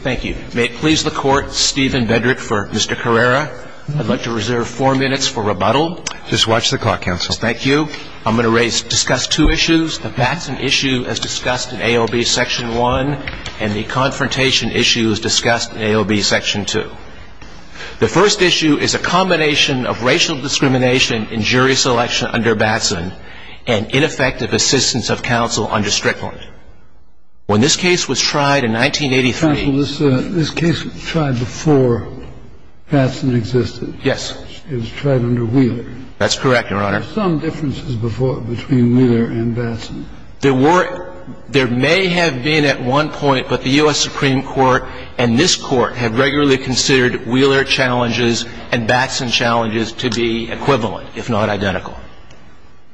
Thank you. May it please the court, Steven Bedrick for Mr. Carrera. I'd like to reserve four minutes for rebuttal. Just watch the clock, counsel. Thank you. I'm going to discuss two issues. The Batson issue as discussed in AOB Section 1 and the confrontation issue as discussed in AOB Section 2. The first issue is a combination of racial discrimination in jury selection under Batson and ineffective assistance of counsel under Strickland. When this case was tried in 1983. Counsel, this case was tried before Batson existed. Yes. It was tried under Wheeler. That's correct, your honor. Were there some differences between Wheeler and Batson? There were. There may have been at one point, but the U.S. Supreme Court and this court have regularly considered Wheeler challenges and Batson challenges to be equivalent, if not identical.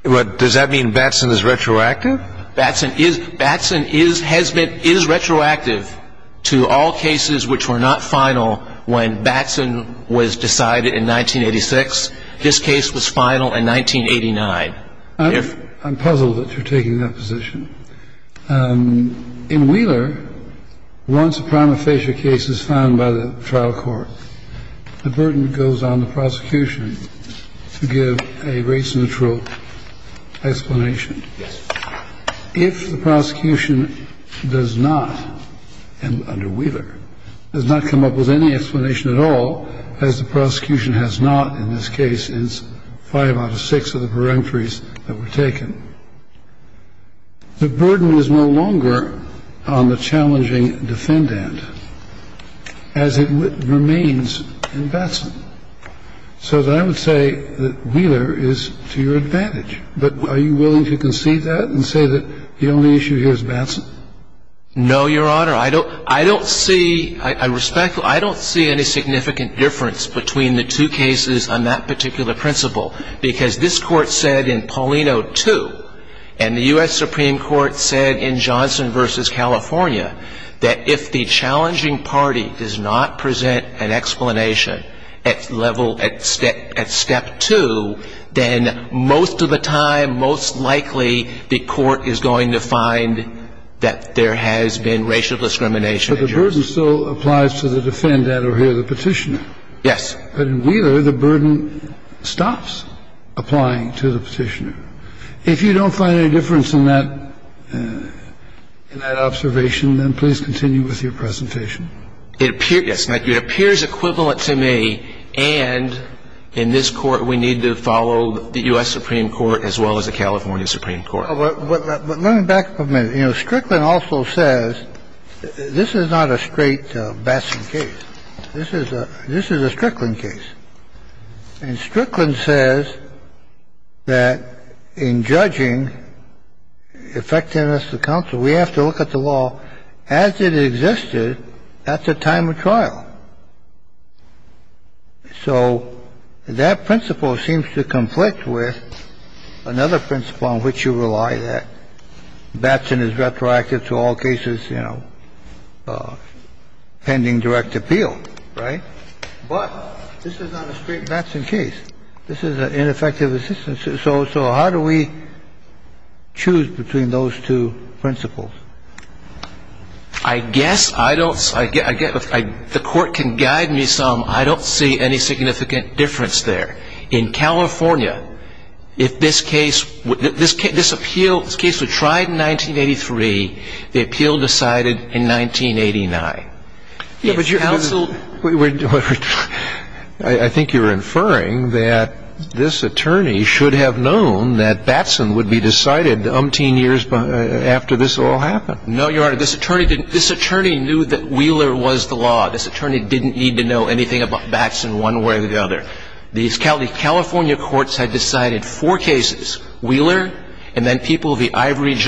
Does that mean Batson is retroactive? Batson has been retroactive to all cases which were not final when Batson was decided in 1986. This case was final in 1989. I'm puzzled that you're taking that position. In Wheeler, once a prima facie case is found by the trial court, the burden goes on the prosecution to give a race neutral explanation. Yes. If the prosecution does not, under Wheeler, does not come up with any explanation at all, as the prosecution has not in this case since five out of six of the peremptories that were taken, the burden is no longer on the challenging defendant as it remains in Batson. So I would say that Wheeler is to your advantage. But are you willing to concede that and say that the only issue here is Batson? No, your honor. I don't see, I respect, I don't see any significant difference between the two cases on that particular principle, because this court said in Paulino 2 and the U.S. Supreme Court said in Johnson v. California that if the challenging party does not present an explanation at level at step two, then most of the time, most likely, the court is going to find that there has been racial discrimination. But the burden still applies to the defendant over here, the petitioner. Yes. But in Wheeler, the burden stops applying to the petitioner. If you don't find any difference in that observation, then please continue with your presentation. It appears equivalent to me, and in this Court, we need to follow the U.S. Supreme Court as well as the California Supreme Court. But let me back up a minute. You know, Strickland also says this is not a straight Batson case. This is a Strickland case. And Strickland says that if the challenging the court is going to find that there has been racial discrimination in judging effectiveness of counsel. We have to look at the law as it existed at the time of trial. So that principle seems to conflict with another principle on which you rely, that is, pending direct appeal, right? But this is not a straight Batson case. This is an ineffective assistance. So how do we choose between those two principles? I guess I don't the Court can guide me some. I don't see any significant difference there. In California, if this case, this appeal, this case was tried in 1983, the appeal was decided in 1989. I think you're inferring that this attorney should have known that Batson would be decided umpteen years after this all happened. No, Your Honor. This attorney knew that Wheeler was the law. This attorney didn't need to know anything about Batson one way or the other. The California courts had decided four And then People v. Allen in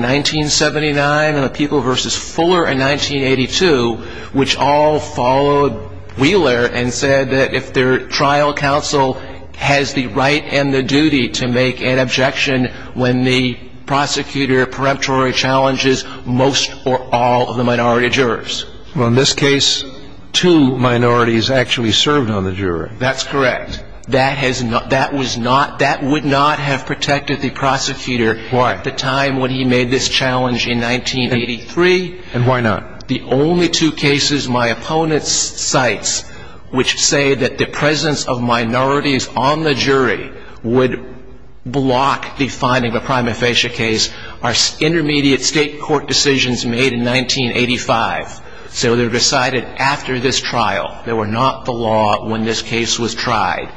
1979 and People v. Fuller in 1982, which all followed Wheeler and said that if their trial counsel has the right and the duty to make an objection when the prosecutor preemptory challenges most or all of the minority jurors. Well, in this case, two minorities actually served on the jury. That's correct. That would not have protected the prosecutor at the time when he made this challenge in 1983. And why not? The only two cases my opponent cites which say that the presence of minorities on the jury would block the finding of a prima facie case are intermediate state court decisions made in 1985. So they're decided after this trial. They were not the law when this case was tried.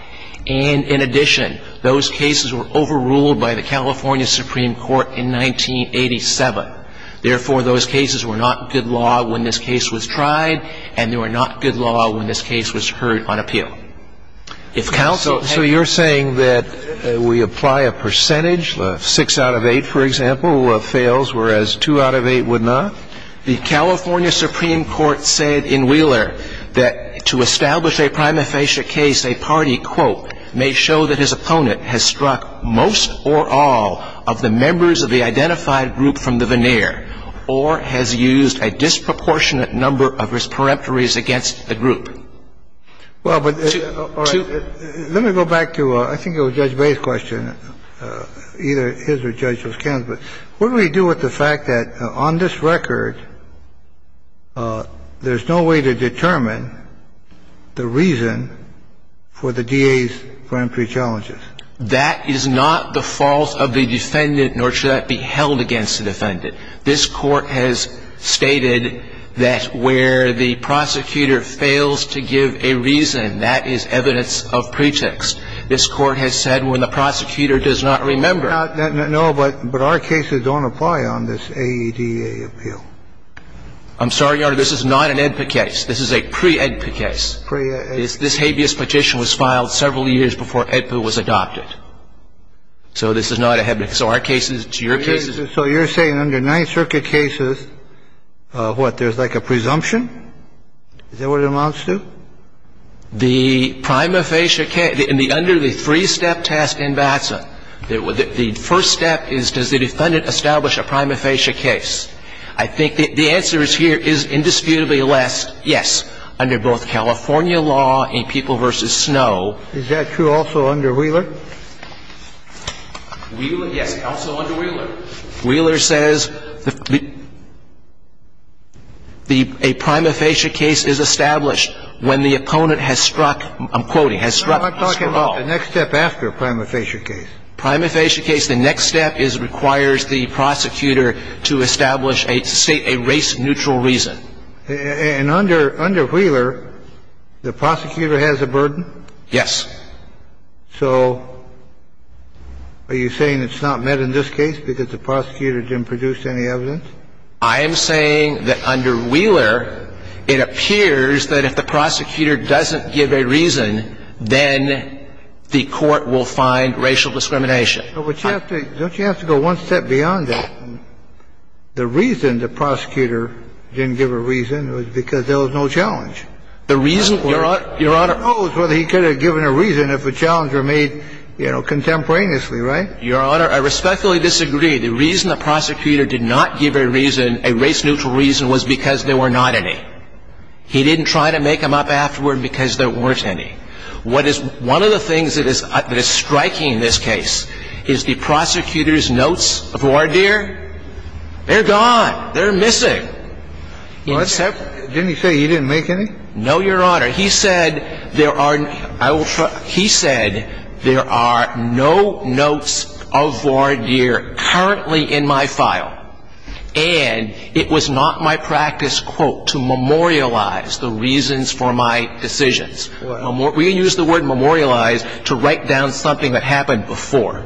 And in addition, those cases were overruled by the California Supreme Court in 1987. Therefore, those cases were not good law when this case was tried, and they were not good law when this case was heard on appeal. So you're saying that we apply a percentage, six out of eight, for example, fails, whereas two out of eight would not? The California Supreme Court said in Wheeler that to establish a prima facie case, a party, quote, may show that his opponent has struck most or all of the members of the identified group from the veneer or has used a disproportionate number of his preemptories against the group. Well, but let me go back to I think it was Judge Bay's question, either his or Judge Ken's, but what do we do with the fact that on this record there's no way to determine the reason for the DA's preemptory challenges? That is not the fault of the defendant, nor should that be held against the defendant. This Court has stated that where the prosecutor fails to give a reason, that is evidence of pretext. This Court has said when the prosecutor does not remember. No, but our cases don't apply on this AEDA appeal. I'm sorry, Your Honor, this is not an AEDPA case. This is a pre-AEDPA case. Pre-AEDPA. This habeas petition was filed several years before AEDPA was adopted. So this is not a habeas. So our cases, it's your cases. So you're saying under Ninth Circuit cases, what, there's like a presumption? Is that what it amounts to? The prima facie case, under the three-step test in VATSA, the first step is, does the defendant establish a prima facie case? I think the answer here is indisputably less, yes, under both California law and People v. Snow. Is that true also under Wheeler? Wheeler, yes, also under Wheeler. Wheeler says a prima facie case is established when the opponent has struck, I'm quoting, has struck us for all. No, I'm talking about the next step after a prima facie case. Prima facie case, the next step requires the prosecutor to establish a race-neutral reason. And under Wheeler, the prosecutor has a burden? Yes. So are you saying it's not met in this case because the prosecutor didn't produce any evidence? I am saying that under Wheeler, it appears that if the prosecutor doesn't give a reason, then the court will find racial discrimination. Don't you have to go one step beyond that? The reason the prosecutor didn't give a reason was because there was no challenge. Your Honor, I respectfully disagree. The reason the prosecutor did not give a reason, a race-neutral reason, was because there were not any. He didn't try to make them up afterward because there weren't any. What is one of the things that is striking in this case is the prosecutor's notes of voir dire. They're gone. They're missing. Didn't he say he didn't make any? No, Your Honor. He said there are no notes of voir dire currently in my file. And it was not my practice, quote, to memorialize the reasons for my decisions. We use the word memorialize to write down something that happened before.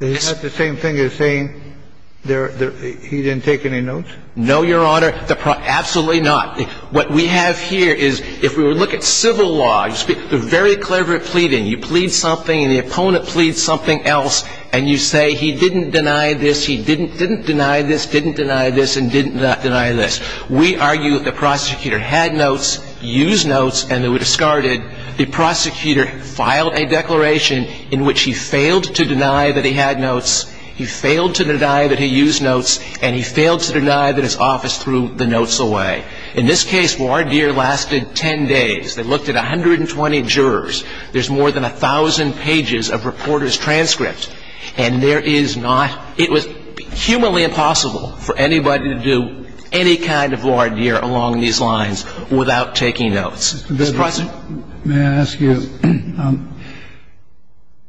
Isn't that the same thing as saying he didn't take any notes? No, Your Honor. Absolutely not. What we have here is if we were to look at civil law, they're very clever at pleading. You plead something and the opponent pleads something else and you say he didn't deny this, he didn't deny this, didn't deny this, and didn't deny this. We argue that the prosecutor had notes, used notes, and they were discarded. The prosecutor filed a declaration in which he failed to deny that he had notes, he failed to deny that he used notes, and he failed to deny that his office threw the notes away. In this case, voir dire lasted 10 days. They looked at 120 jurors. There's more than 1,000 pages of reporters' transcripts. And there is not ñ it was humanly impossible for anybody to do any kind of voir dire along these lines without taking notes. Mr. President? May I ask you,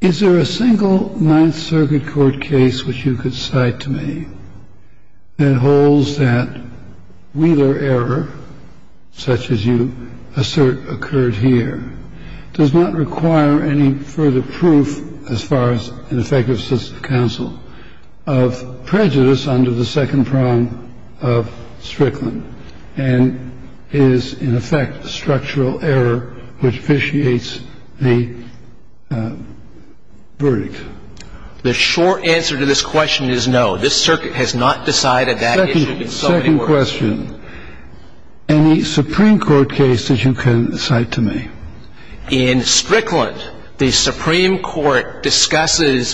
is there a single Ninth Circuit court case which you could cite to me that holds that Wheeler error, such as you assert occurred here, does not require any further proof, as far as an effective system of counsel, of prejudice under the second prong of Strickland, and is, in effect, structural error which officiates the verdict? The short answer to this question is no. This circuit has not decided that issue in so many words. Second question. Any Supreme Court case that you can cite to me? In Strickland, the Supreme Court discusses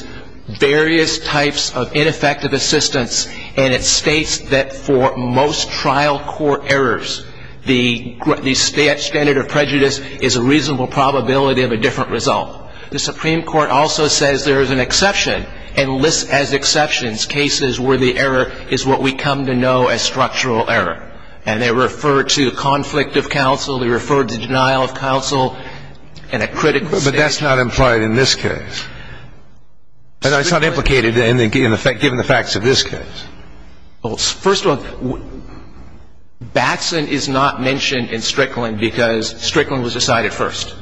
various types of ineffective assistance, and it states that for most trial court errors, the standard of prejudice is a reasonable probability of a different result. The Supreme Court also says there is an exception, and lists as exceptions cases where the error is what we come to know as structural error. And they refer to conflict of counsel, they refer to denial of counsel, and a critical stage. But that's not implied in this case. No, it's not implicated, given the facts of this case. Well, first of all, Batson is not mentioned in Strickland because Strickland was decided first.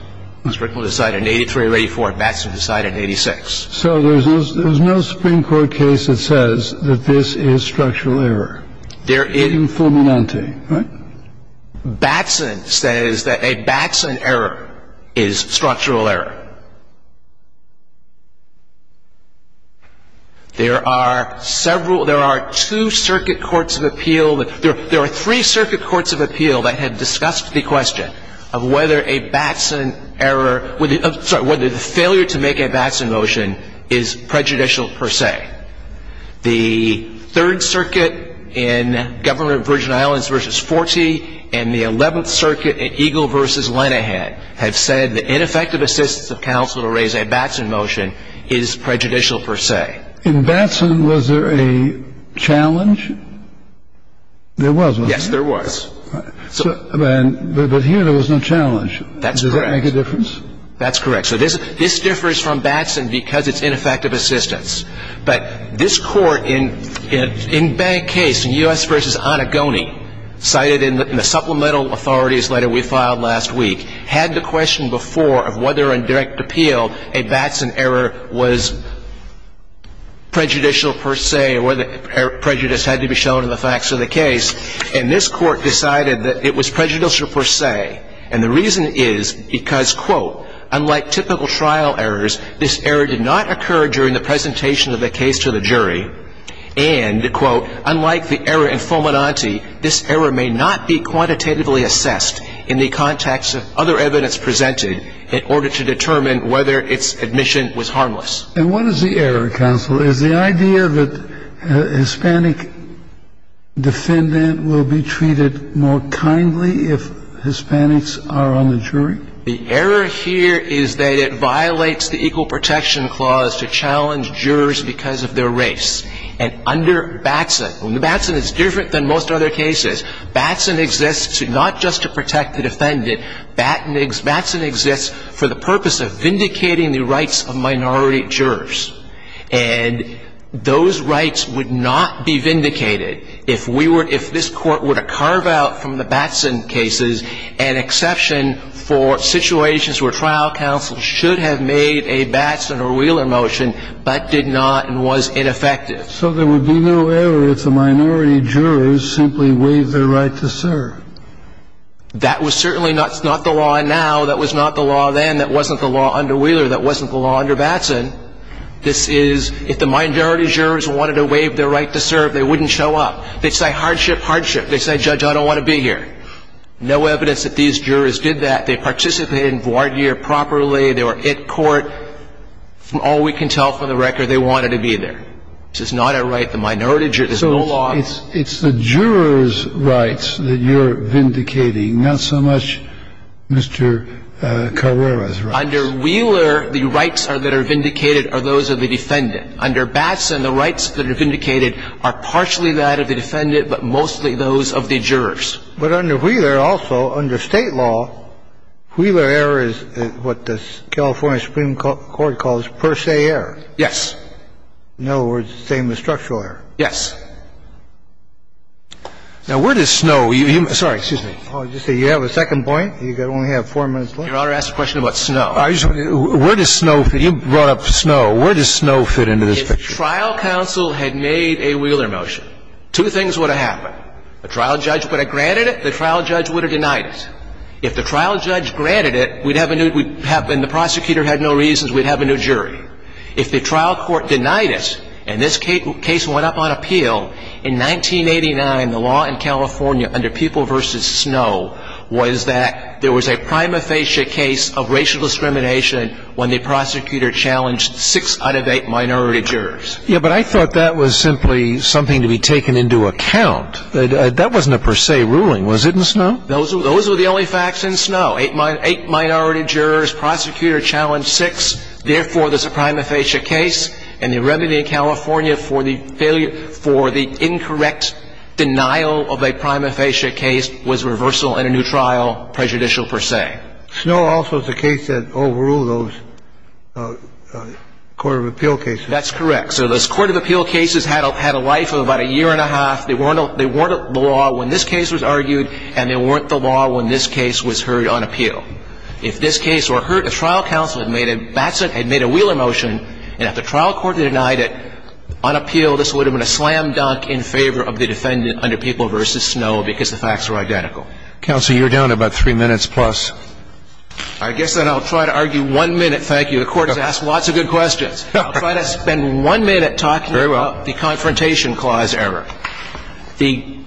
Strickland was decided in 83 or 84, and Batson was decided in 86. So there's no Supreme Court case that says that this is structural error. Informalante, right? Batson says that a Batson error is structural error. There are several – there are two circuit courts of appeal – there are three circuit courts of appeal that have discussed the question of whether a Batson error – sorry, whether the failure to make a Batson motion is prejudicial per se. The Third Circuit in Governor of Virgin Islands v. Forty and the Eleventh Circuit in Eagle v. Lenehan have said that ineffective assistance of counsel to raise a Batson motion is prejudicial per se. In Batson, was there a challenge? There was, wasn't there? Yes, there was. But here there was no challenge. Does that make a difference? That's correct. So this differs from Batson because it's ineffective assistance. But this Court in bank case, in U.S. v. Onagoni, cited in the supplemental authorities letter we filed last week, had the question before of whether in direct appeal a Batson error was prejudicial per se or whether prejudice had to be shown in the facts of the case. And this Court decided that it was prejudicial per se. And the reason is because, quote, unlike typical trial errors, this error did not occur during the presentation of the case to the jury. And, quote, unlike the error in Fomenanti, this error may not be quantitatively assessed in the context of other evidence presented in order to determine whether its admission was harmless. And what is the error, counsel? Is the idea that a Hispanic defendant will be treated more kindly if Hispanics are on the jury? The error here is that it violates the equal protection clause to challenge jurors because of their race. And under Batson, Batson is different than most other cases. Batson exists not just to protect the defendant. Batson exists for the purpose of vindicating the rights of minority jurors. And those rights would not be vindicated if we were – if this Court were to carve out from the Batson cases an exception for situations where trial counsel should have made a Batson or Wheeler motion but did not and was ineffective. So there would be no error if the minority jurors simply waived their right to serve. That was certainly not the law now. That was not the law then. That wasn't the law under Wheeler. That wasn't the law under Batson. This is – if the minority jurors wanted to waive their right to serve, they wouldn't show up. They'd say, hardship, hardship. They'd say, Judge, I don't want to be here. No evidence that these jurors did that. They participated in voir dire properly. They were at court. From all we can tell from the record, they wanted to be there. This is not a right the minority jurors – there's no law. So it's the jurors' rights that you're vindicating, not so much Mr. Carrera's rights. Under Wheeler, the rights that are vindicated are those of the defendant. Under Batson, the rights that are vindicated are partially that of the defendant, but mostly those of the jurors. But under Wheeler also, under State law, Wheeler error is what the California Supreme Court calls per se error. Yes. In other words, the same as structural error. Yes. Now, where does Snow – sorry, excuse me. You have a second point? You only have four minutes left. Your Honor, I asked a question about Snow. Where does Snow – you brought up Snow. Where does Snow fit into this picture? If trial counsel had made a Wheeler motion, two things would have happened. The trial judge would have granted it. The trial judge would have denied it. If the trial judge granted it, we'd have a new – and the prosecutor had no reasons, we'd have a new jury. If the trial court denied it, and this case went up on appeal, in 1989, the law in California under People v. Snow was that there was a prima facie case of racial discrimination when the prosecutor challenged six out of eight minority jurors. Yes, but I thought that was simply something to be taken into account. That wasn't a per se ruling. Was it in Snow? Those were the only facts in Snow. Eight minority jurors. Prosecutor challenged six. Therefore, there's a prima facie case. And the remedy in California for the failure – for the incorrect denial of a prima facie case was reversal and a new trial, prejudicial per se. Snow also is the case that overruled those court of appeal cases. That's correct. So those court of appeal cases had a life of about a year and a half. They weren't the law when this case was argued, and they weren't the law when this case was heard on appeal. If this case were heard, the trial counsel had made a – Batson had made a Wheeler motion, and if the trial court had denied it on appeal, this would have been a slam dunk in favor of the defendant under People v. Snow because the facts were identical. Counsel, you're down about three minutes plus. I guess then I'll try to argue one minute. Thank you. The Court has asked lots of good questions. I'll try to spend one minute talking about the Confrontation Clause error. Very well.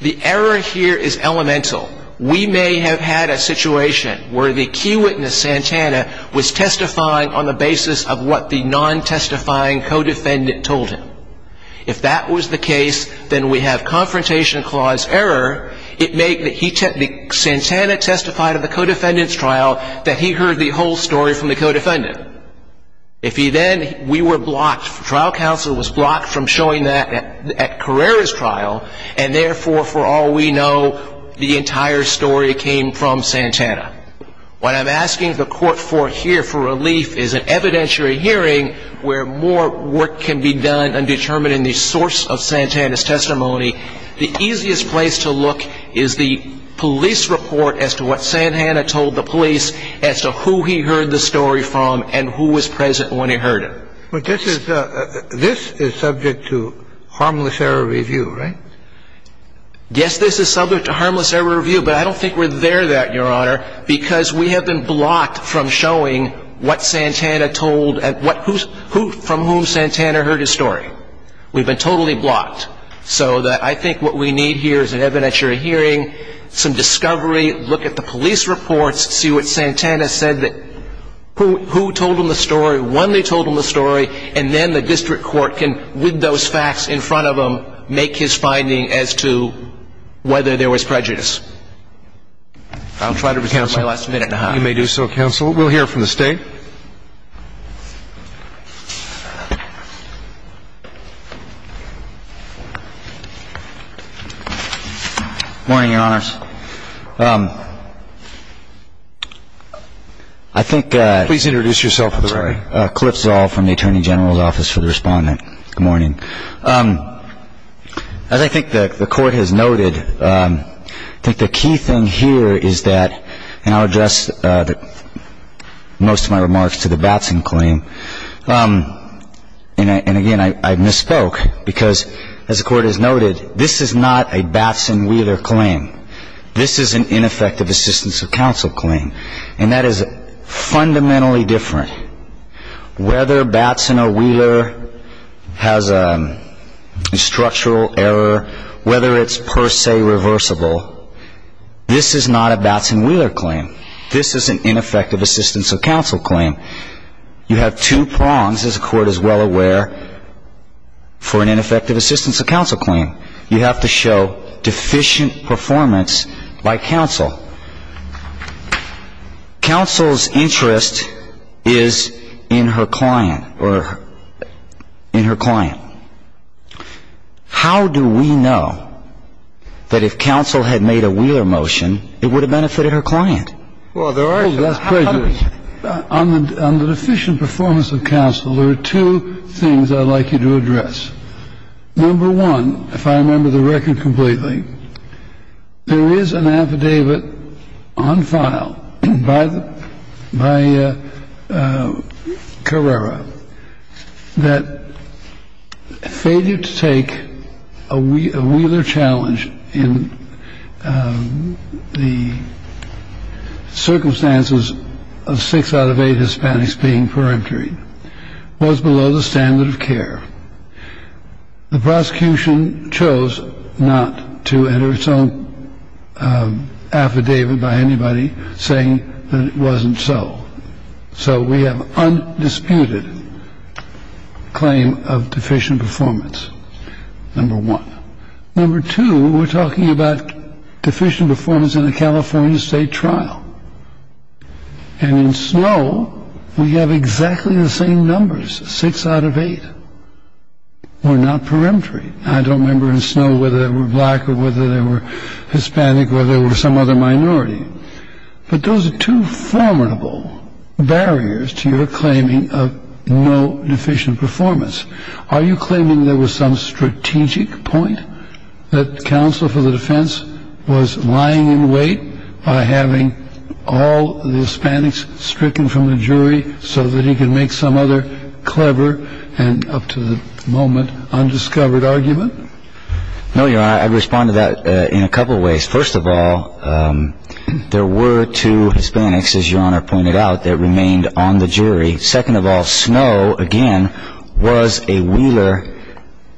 The error here is elemental. We may have had a situation where the key witness, Santana, was testifying on the basis of what the non-testifying co-defendant told him. If that was the case, then we have Confrontation Clause error. It may be that Santana testified at the co-defendant's trial that he heard the whole story from the co-defendant. If he then – we were blocked. Well, this is – this is subject to harmless error review, right? Yes, this is subject to harmless error review, but I don't think we're there yet, Your Honor, because we have been blocked from showing what Santana told – from whom Santana heard his story. We've been totally blocked. So I think what we need here is an evidentiary hearing, some discovery, look at the police reports, see what Santana said that – who told him the story, when they told him the story, and then the district court can, with those facts in front of them, make his finding as to whether there was prejudice. I'll try to reserve my last minute and a half. You may do so, counsel. We'll hear from the State. Good morning, Your Honors. I think – Please introduce yourself to the right. Cliff Zoll from the Attorney General's Office for the Respondent. Good morning. As I think the Court has noted, I think the key thing here is that – and I'll address most of my remarks to the Batson claim. And again, I misspoke because, as the Court has noted, this is not a Batson-Wheeler claim. This is an ineffective assistance of counsel claim. And that is fundamentally different. Whether Batson or Wheeler has a structural error, whether it's per se reversible, this is not a Batson-Wheeler claim. This is an ineffective assistance of counsel claim. You have two prongs, as the Court is well aware, for an ineffective assistance of counsel claim. You have to show deficient performance by counsel. Counsel's interest is in her client. How do we know that if counsel had made a Wheeler motion, it would have benefited her client? Well, there are some. On the deficient performance of counsel, there are two things I'd like you to address. Number one, if I remember the record completely, there is an affidavit on file by Carrera that failure to take a Wheeler challenge in the circumstances of six out of eight Hispanics being peremptory was below the standard of care. The prosecution chose not to enter its own affidavit by anybody saying that it wasn't so. So we have undisputed claim of deficient performance, number one. Number two, we're talking about deficient performance in a California state trial. And in Snowe, we have exactly the same numbers, six out of eight were not peremptory. I don't remember in Snowe whether they were black or whether they were Hispanic or there were some other minority. But those are two formidable barriers to your claiming of no deficient performance. Are you claiming there was some strategic point that counsel for the defense was lying in wait by having all the Hispanics stricken from the jury so that he could make some other clever and up to the moment undiscovered argument? No, Your Honor, I respond to that in a couple of ways. First of all, there were two Hispanics, as Your Honor pointed out, that remained on the jury. Second of all, Snowe, again, was a Wheeler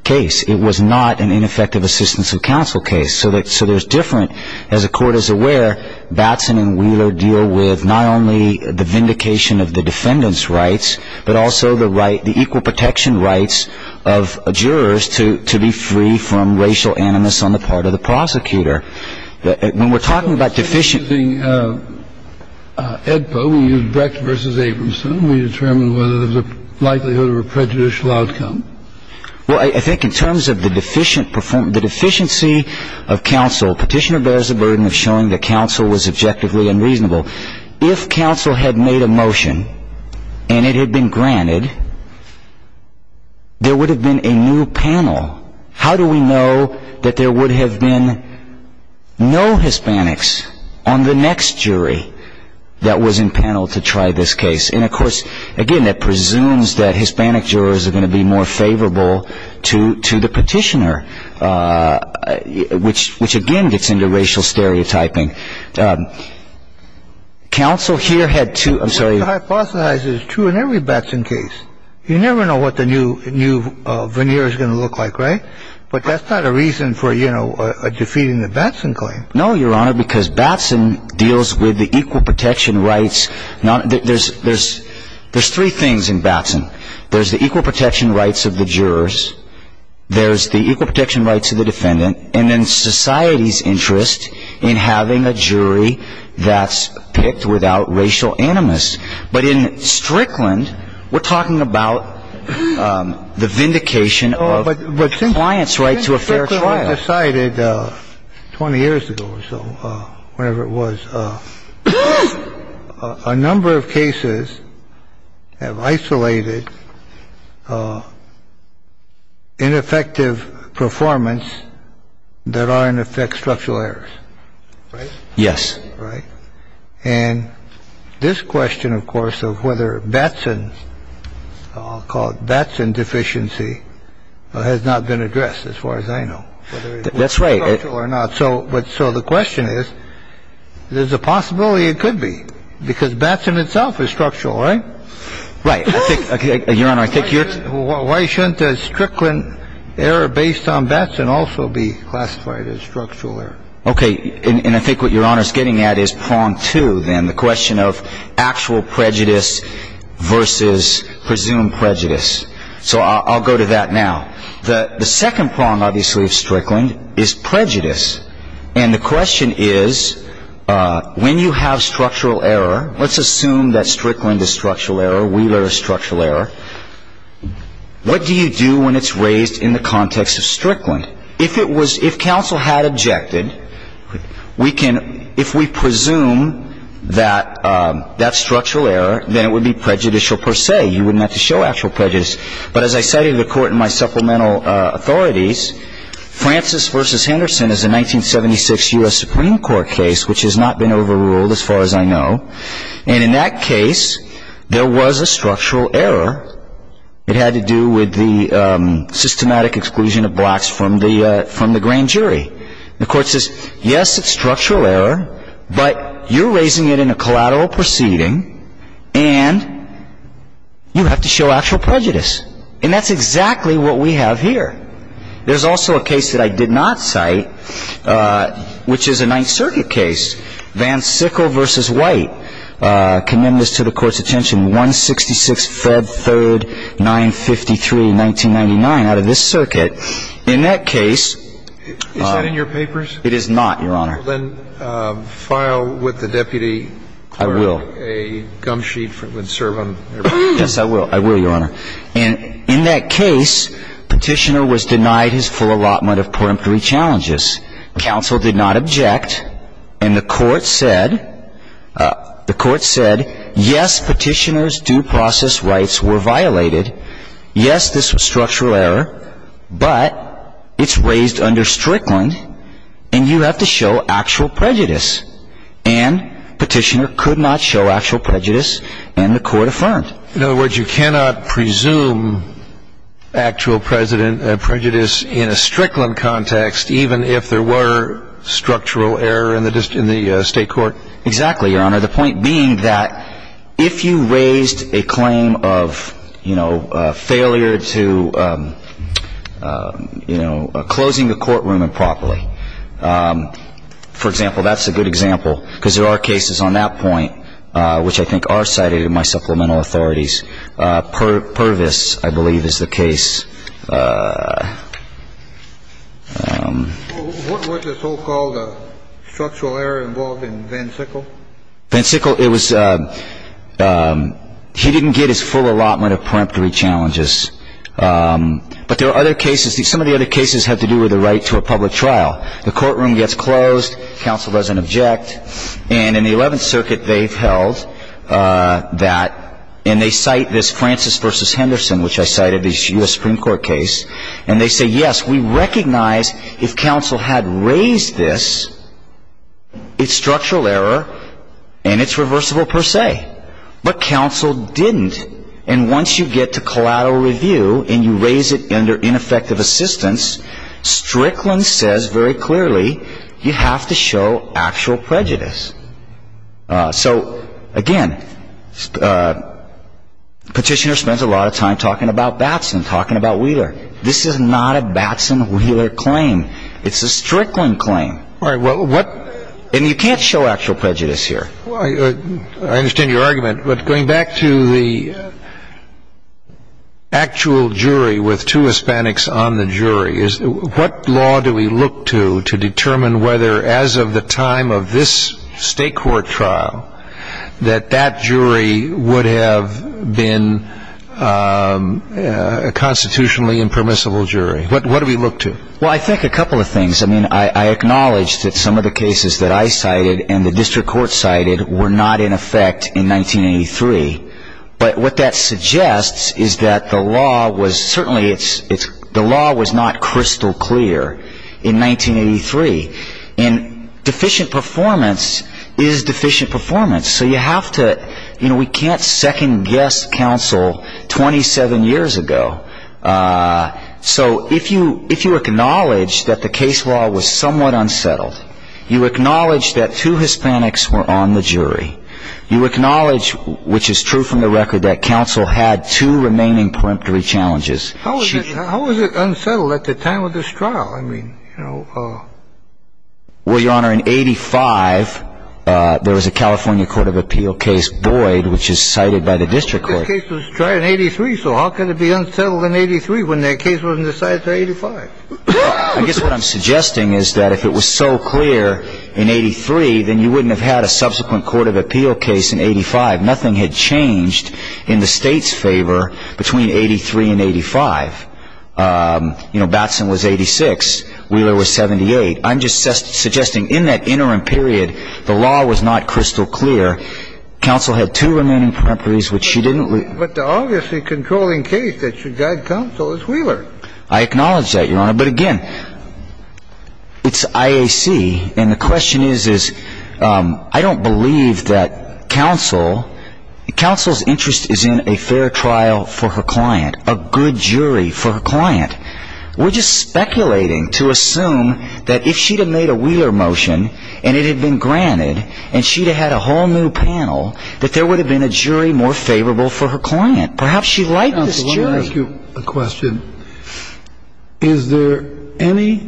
case. It was not an ineffective assistance of counsel case. So there's different, as the court is aware, Batson and Wheeler deal with not only the vindication of the defendant's rights, but also the equal protection rights of jurors to be free from racial animus on the part of the prosecutor. When we're talking about deficient... Edpo, we use Brecht versus Abramson. We determine whether there's a likelihood of a prejudicial outcome. Well, I think in terms of the deficient performance, the deficiency of counsel, Petitioner bears the burden of showing that counsel was objectively unreasonable. If counsel had made a motion and it had been granted, there would have been a new panel. How do we know that there would have been no Hispanics on the next jury that was in panel to try this case? And, of course, again, that presumes that Hispanic jurors are going to be more favorable to the Petitioner, which again gets into racial stereotyping. Counsel here had two... I'm sorry. To hypothesize it is true in every Batson case. You never know what the new veneer is going to look like, right? But that's not a reason for, you know, defeating the Batson claim. No, Your Honor, because Batson deals with the equal protection rights. There's three things in Batson. There's the equal protection rights of the jurors. There's the equal protection rights of the defendant. And then society's interest in having a jury that's picked without racial animus. But in Strickland, we're talking about the vindication of the client's right to a fair trial. But since Strickland decided 20 years ago or so, whenever it was, a number of cases have isolated ineffective performance that are, in effect, structural errors, right? Yes. Right? And this question, of course, of whether Batson's, I'll call it Batson deficiency, has not been addressed as far as I know. That's right. Whether it's structural or not. So the question is, there's a possibility it could be, because Batson itself is structural, right? Right. I think, Your Honor, I think you're... Why shouldn't a Strickland error based on Batson also be classified as structural error? Okay. And I think what Your Honor's getting at is prong two, then, the question of actual prejudice versus presumed prejudice. So I'll go to that now. The second prong, obviously, of Strickland is prejudice. And the question is, when you have structural error, let's assume that Strickland is structural error, Wheeler is structural error, what do you do when it's raised in the context of Strickland? If it was, if counsel had objected, we can, if we presume that that's structural error, then it would be prejudicial per se. You wouldn't have to show actual prejudice. But as I cited in the court in my supplemental authorities, Francis versus Henderson is a 1976 U.S. Supreme Court case, which has not been overruled as far as I know. And in that case, there was a structural error. It had to do with the systematic exclusion of blacks from the grand jury. The court says, yes, it's structural error, but you're raising it in a collateral proceeding, and you have to show actual prejudice. And that's exactly what we have here. There's also a case that I did not cite, which is a Ninth Circuit case, Van Sickle versus White. I commend this to the Court's attention. 166, Feb. 3, 1953, 1999, out of this circuit. In that case ‑‑ Is that in your papers? It is not, Your Honor. Well, then file with the deputy clerk a gum sheet that would serve on your papers. Yes, I will. I will, Your Honor. And in that case, Petitioner was denied his full allotment of peremptory challenges. Counsel did not object, and the court said, yes, Petitioner's due process rights were violated. Yes, this was structural error, but it's raised under Strickland, and you have to show actual prejudice. And Petitioner could not show actual prejudice, and the court affirmed. In other words, you cannot presume actual prejudice in a Strickland context, even if there were structural error in the state court? Exactly, Your Honor. The point being that if you raised a claim of, you know, failure to, you know, closing a courtroom improperly, for example, that's a good example because there are cases on that point which I think are cited in my supplemental authorities. Purvis, I believe, is the case. What was the so-called structural error involved in Van Sickle? Van Sickle, it was ‑‑ he didn't get his full allotment of peremptory challenges. But there are other cases. Some of the other cases had to do with the right to a public trial. The courtroom gets closed. Counsel doesn't object. And in the 11th Circuit, they've held that, and they cite this Francis v. Henderson, which I cited, the U.S. Supreme Court case. And they say, yes, we recognize if counsel had raised this, it's structural error, and it's reversible per se. But counsel didn't. And once you get to collateral review and you raise it under ineffective assistance, Strickland says very clearly you have to show actual prejudice. So, again, Petitioner spends a lot of time talking about Batson, talking about Wheeler. This is not a Batson‑Wheeler claim. It's a Strickland claim. All right. Well, what ‑‑ And you can't show actual prejudice here. I understand your argument, but going back to the actual jury with two Hispanics on the jury, what law do we look to to determine whether, as of the time of this state court trial, that that jury would have been a constitutionally impermissible jury? What do we look to? Well, I think a couple of things. I mean, I acknowledge that some of the cases that I cited and the district court cited were not in effect in 1983. But what that suggests is that the law was ‑‑ certainly the law was not crystal clear in 1983. And deficient performance is deficient performance. So you have to ‑‑ you know, we can't second guess counsel 27 years ago. So if you acknowledge that the case law was somewhat unsettled, you acknowledge that two Hispanics were on the jury, you acknowledge, which is true from the record, that counsel had two remaining peremptory challenges. How was it unsettled at the time of this trial? I mean, you know ‑‑ Well, Your Honor, in 85, there was a California Court of Appeal case, Boyd, which is cited by the district court. That case was tried in 83, so how could it be unsettled in 83 when the case was decided in 85? I guess what I'm suggesting is that if it was so clear in 83, then you wouldn't have had a subsequent court of appeal case in 85. Nothing had changed in the state's favor between 83 and 85. You know, Batson was 86. Wheeler was 78. I'm just suggesting in that interim period, the law was not crystal clear. Counsel had two remaining peremptories, which she didn't ‑‑ But the obviously controlling case that should guide counsel is Wheeler. I acknowledge that, Your Honor. But, again, it's IAC, and the question is, is I don't believe that counsel ‑‑ counsel's interest is in a fair trial for her client, a good jury for her client. We're just speculating to assume that if she had made a Wheeler motion and it had been granted and she had a whole new panel, that there would have been a jury more favorable for her client. Perhaps she liked this jury. Counsel, let me ask you a question. Is there any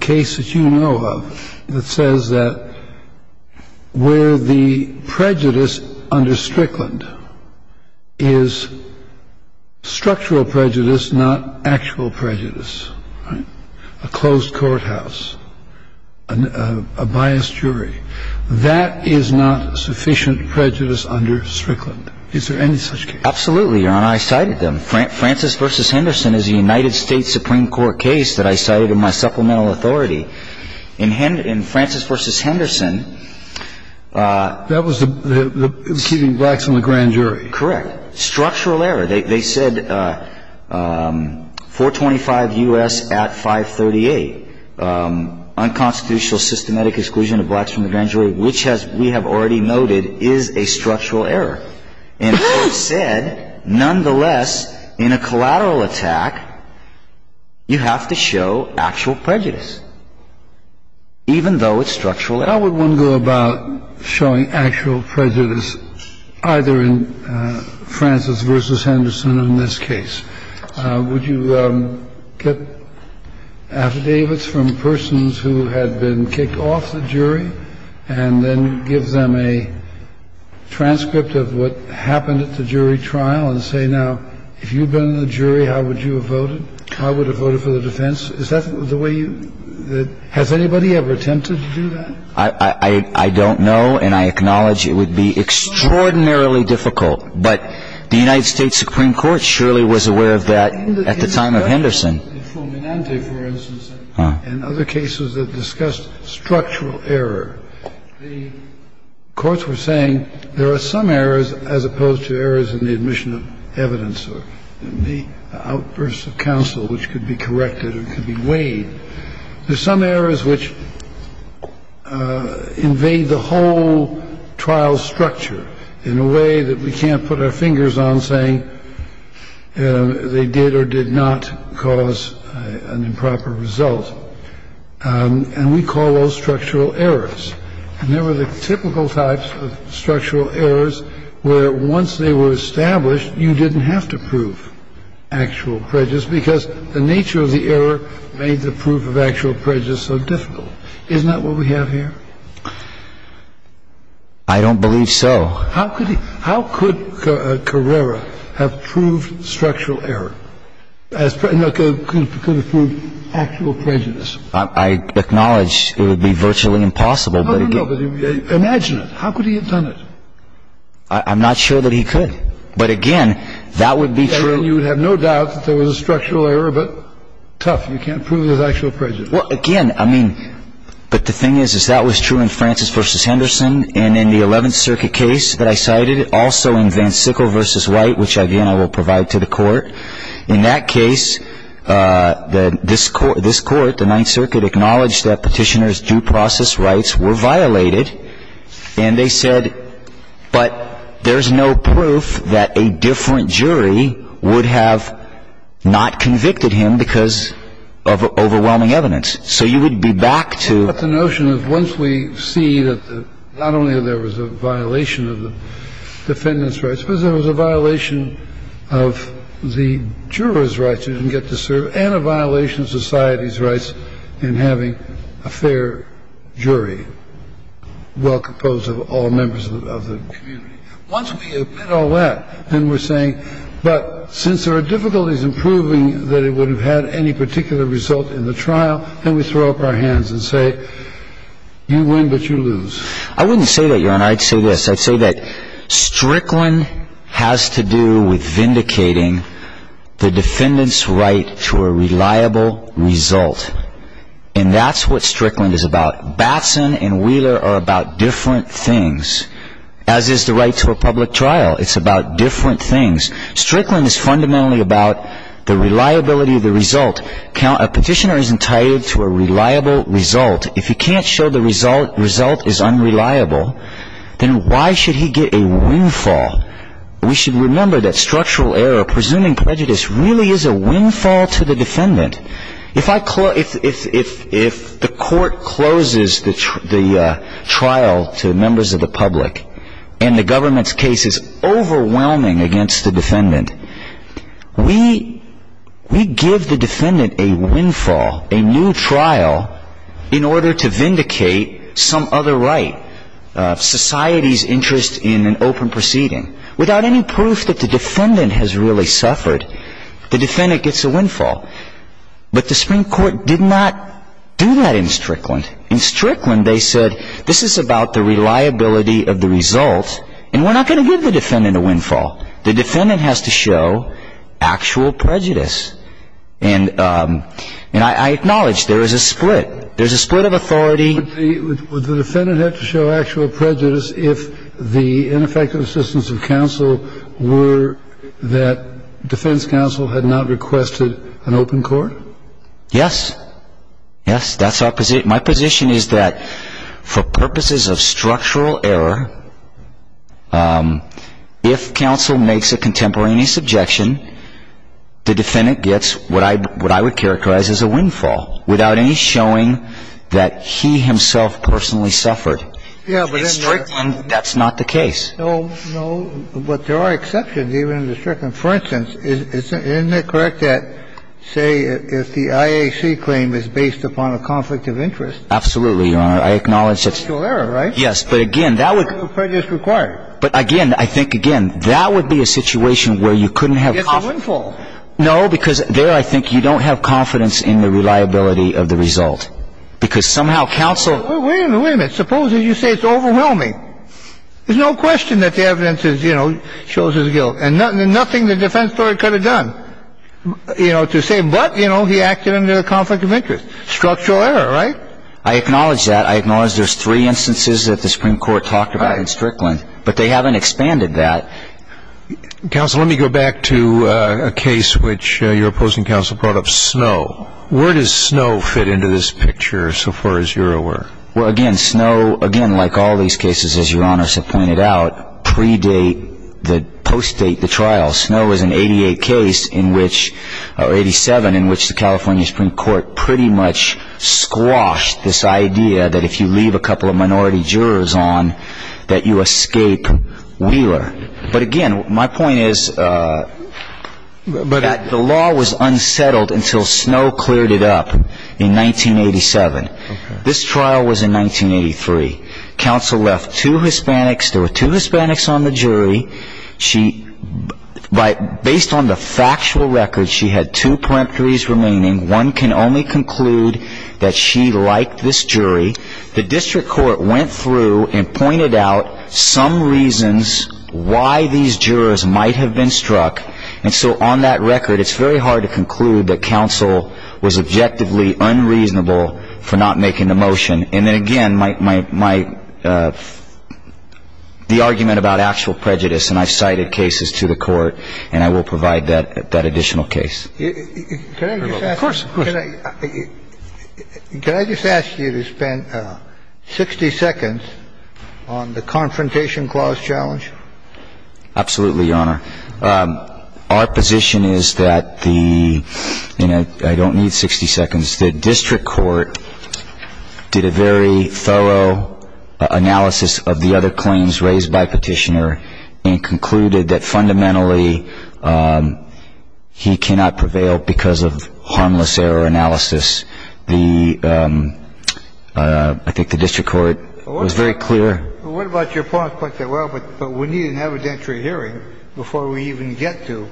case that you know of that says that where the prejudice under Strickland is structural prejudice, not actual prejudice? A closed courthouse, a biased jury, that is not sufficient prejudice under Strickland. Is there any such case? Absolutely, Your Honor. I cited them. Francis v. Henderson is a United States Supreme Court case that I cited in my supplemental authority. In Francis v. Henderson ‑‑ That was the ‑‑ keeping blacks from the grand jury. Correct. Structural error. They said 425 U.S. at 538. Unconstitutional systematic exclusion of blacks from the grand jury, which we have already noted is a structural error. And so it said, nonetheless, in a collateral attack, you have to show actual prejudice, even though it's structural error. How would one go about showing actual prejudice, either in Francis v. Henderson or in this case? Would you get affidavits from persons who had been kicked off the jury and then give them a transcript of what happened at the jury trial and say, now, if you had been in the jury, how would you have voted? How would you have voted for the defense? Is that the way you ‑‑ has anybody ever attempted to do that? I don't know, and I acknowledge it would be extraordinarily difficult, but the United States Supreme Court surely was aware of that at the time of Henderson. In Fulminante, for instance, and other cases that discussed structural error, the courts were saying there are some errors as opposed to errors in the admission of evidence or the outbursts of counsel which could be corrected or could be weighed. There are some errors which invade the whole trial structure in a way that we can't put our fingers on, saying they did or did not cause an improper result. And we call those structural errors. And there were the typical types of structural errors where once they were established, you didn't have to prove actual prejudice because the nature of the error made the proof of actual prejudice so difficult. Isn't that what we have here? I don't believe so. How could Carrera have proved structural error? Could have proved actual prejudice? I acknowledge it would be virtually impossible. No, no, no. Imagine it. How could he have done it? I'm not sure that he could. But again, that would be true. And you would have no doubt that there was a structural error, but tough. You can't prove there's actual prejudice. Well, again, I mean, but the thing is, is that was true in Francis v. Henderson. And in the Eleventh Circuit case that I cited, also in Van Sickle v. White, which, again, I will provide to the Court. In that case, this Court, the Ninth Circuit, acknowledged that Petitioner's due process rights were violated. And they said, but there's no proof that a different jury would have not convicted him because of overwhelming evidence. So you would be back to the notion of once we see that not only there was a violation of the defendant's rights, I suppose there was a violation of the juror's rights who didn't get to serve, and a violation of society's rights in having a fair jury well composed of all members of the community. Once we admit all that, then we're saying, but since there are difficulties in proving that it would have had any particular result in the trial, then we throw up our hands and say, you win, but you lose. I wouldn't say that, Your Honor. I'd say this. I'd say that Strickland has to do with vindicating the defendant's right to a reliable result. And that's what Strickland is about. Batson and Wheeler are about different things, as is the right to a public trial. It's about different things. Strickland is fundamentally about the reliability of the result. A petitioner is entitled to a reliable result. If he can't show the result is unreliable, then why should he get a windfall? We should remember that structural error, presuming prejudice, really is a windfall to the defendant. If the court closes the trial to members of the public and the government's case is overwhelming against the defendant, we give the defendant a windfall, a new trial, in order to vindicate some other right, society's interest in an open proceeding. Without any proof that the defendant has really suffered, the defendant gets a windfall. But the Supreme Court did not do that in Strickland. In Strickland, they said, this is about the reliability of the result, and we're not going to give the defendant a windfall. The defendant has to show actual prejudice. And I acknowledge there is a split. There's a split of authority. Would the defendant have to show actual prejudice if the ineffective assistance of counsel were that defense counsel had not requested an open court? Yes. Yes, that's our position. The question is that for purposes of structural error, if counsel makes a contemporaneous objection, the defendant gets what I would characterize as a windfall, without any showing that he himself personally suffered. In Strickland, that's not the case. No, no. But there are exceptions, even in Strickland. For instance, isn't it correct that, say, if the IAC claim is based upon a conflict of interest? Absolutely, Your Honor. I acknowledge it's – Structural error, right? Yes, but again, that would – Prejudice required. But again, I think, again, that would be a situation where you couldn't have – It's a windfall. No, because there I think you don't have confidence in the reliability of the result, because somehow counsel – Wait a minute, wait a minute. Suppose that you say it's overwhelming. There's no question that the evidence is, you know, shows his guilt. And nothing the defense lawyer could have done, you know, to say, but, you know, he acted under a conflict of interest. Structural error, right? I acknowledge that. I acknowledge there's three instances that the Supreme Court talked about in Strickland. But they haven't expanded that. Counsel, let me go back to a case which your opposing counsel brought up, Snow. Where does Snow fit into this picture, so far as you're aware? Well, again, Snow, again, like all these cases, as Your Honors have pointed out, predate, postdate the trial. Snow is an 88 case in which – or 87, in which the California Supreme Court pretty much squashed this idea that if you leave a couple of minority jurors on, that you escape Wheeler. But, again, my point is that the law was unsettled until Snow cleared it up in 1987. This trial was in 1983. Counsel left two Hispanics. There were two Hispanics on the jury. She – based on the factual record, she had two peremptories remaining. One can only conclude that she liked this jury. The district court went through and pointed out some reasons why these jurors might have been struck. And so on that record, it's very hard to conclude that counsel was objectively unreasonable for not making the motion. And then, again, my – the argument about actual prejudice, and I cited cases to the Court, and I will provide that additional case. Can I just ask you to spend 60 seconds on the Confrontation Clause challenge? Absolutely, Your Honor. Our position is that the – and I don't need 60 seconds. The district court did a very thorough analysis of the other claims raised by Petitioner and concluded that fundamentally he cannot prevail because of harmless error analysis. The – I think the district court was very clear. Well, what about your point that, well, we need an evidentiary hearing before we even get to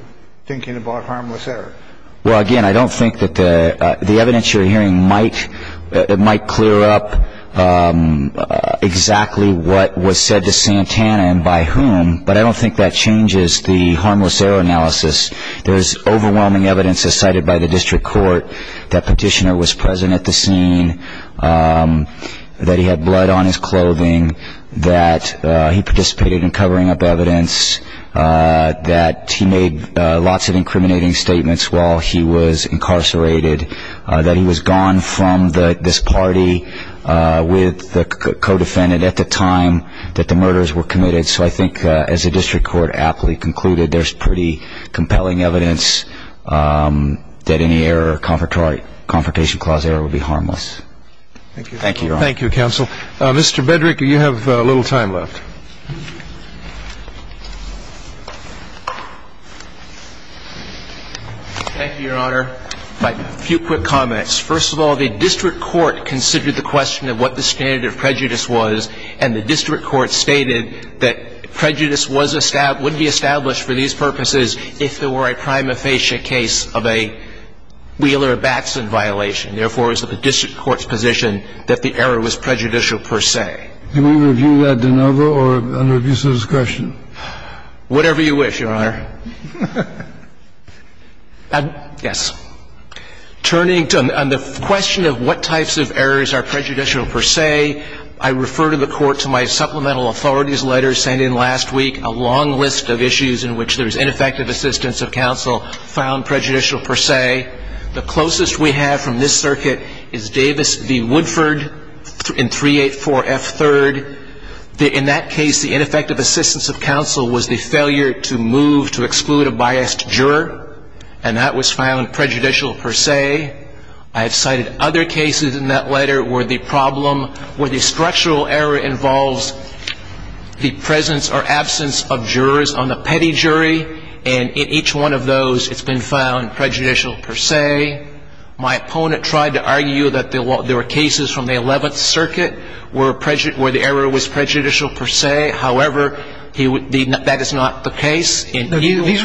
thinking about harmless error? Well, again, I don't think that the evidentiary hearing might clear up exactly what was said to Santana and by whom, but I don't think that changes the harmless error analysis. There is overwhelming evidence as cited by the district court that Petitioner was present at the scene, that he had blood on his clothing, that he participated in covering up evidence, that he made lots of incriminating statements while he was incarcerated, that he was gone from this party with the co-defendant at the time that the murders were committed. So I think as the district court aptly concluded, there's pretty compelling evidence that any error, confrontation clause error would be harmless. Thank you, Your Honor. Thank you, counsel. Mr. Bedrick, you have a little time left. Thank you, Your Honor. A few quick comments. First of all, the district court considered the question of what the standard of prejudice was, and the district court stated that prejudice wouldn't be established for these purposes if there were a prima facie case of a Wheeler-Batson violation. Therefore, it was the district court's position that the error was prejudicial per se. Can we review that de novo or under abuse of discretion? Whatever you wish, Your Honor. Yes. Turning to the question of what types of errors are prejudicial per se, I refer to the court to my supplemental authorities letter sent in last week, a long list of issues in which there's ineffective assistance of counsel found prejudicial per se. The closest we have from this circuit is Davis v. Woodford in 384F3rd. In that case, the ineffective assistance of counsel was the failure to move to exclude a biased juror, and that was found prejudicial per se. I have cited other cases in that letter where the problem, where the structural error involves the presence or absence of jurors on the petty jury, and in each one of those, it's been found prejudicial per se. My opponent tried to argue that there were cases from the 11th Circuit where the error was prejudicial per se. However, that is not the case. These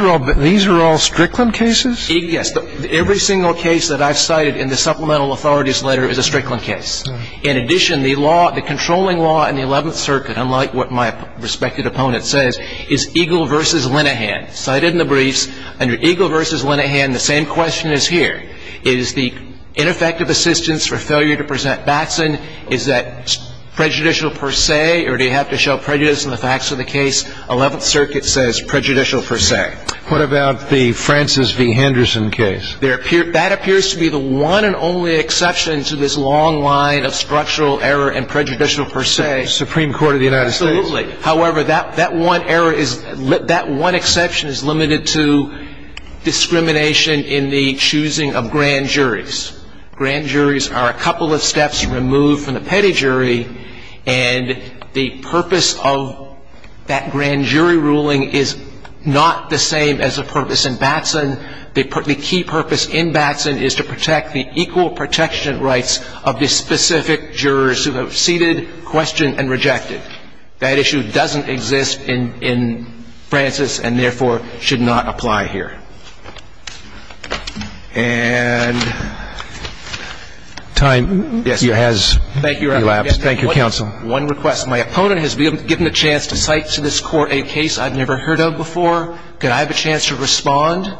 are all Strickland cases? Yes. Every single case that I've cited in the supplemental authorities letter is a Strickland case. In addition, the law, the controlling law in the 11th Circuit, unlike what my respected opponent says, is Eagle v. Linehan. Cited in the briefs, under Eagle v. Linehan, the same question is here. Is the ineffective assistance for failure to present Batson, is that prejudicial per se, or do you have to show prejudice in the facts of the case? 11th Circuit says prejudicial per se. What about the Francis v. Henderson case? That appears to be the one and only exception to this long line of structural error and prejudicial per se. Supreme Court of the United States? Absolutely. However, that one error is, that one exception is limited to discrimination in the choosing of grand juries. Grand juries are a couple of steps removed from the petty jury, and the purpose of that grand jury ruling is not the same as the purpose in Batson. The key purpose in Batson is to protect the equal protection rights of the specific jurors who have ceded, questioned, and rejected. That issue doesn't exist in Francis and, therefore, should not apply here. And time has elapsed. Thank you, counsel. One request. My opponent has given a chance to cite to this Court a case I've never heard of before. Could I have a chance to respond?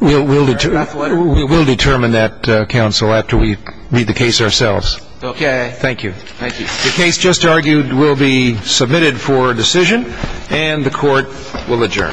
We'll determine that, counsel, after we read the case ourselves. Okay. Thank you. Thank you. The case just argued will be submitted for decision, and the Court will adjourn.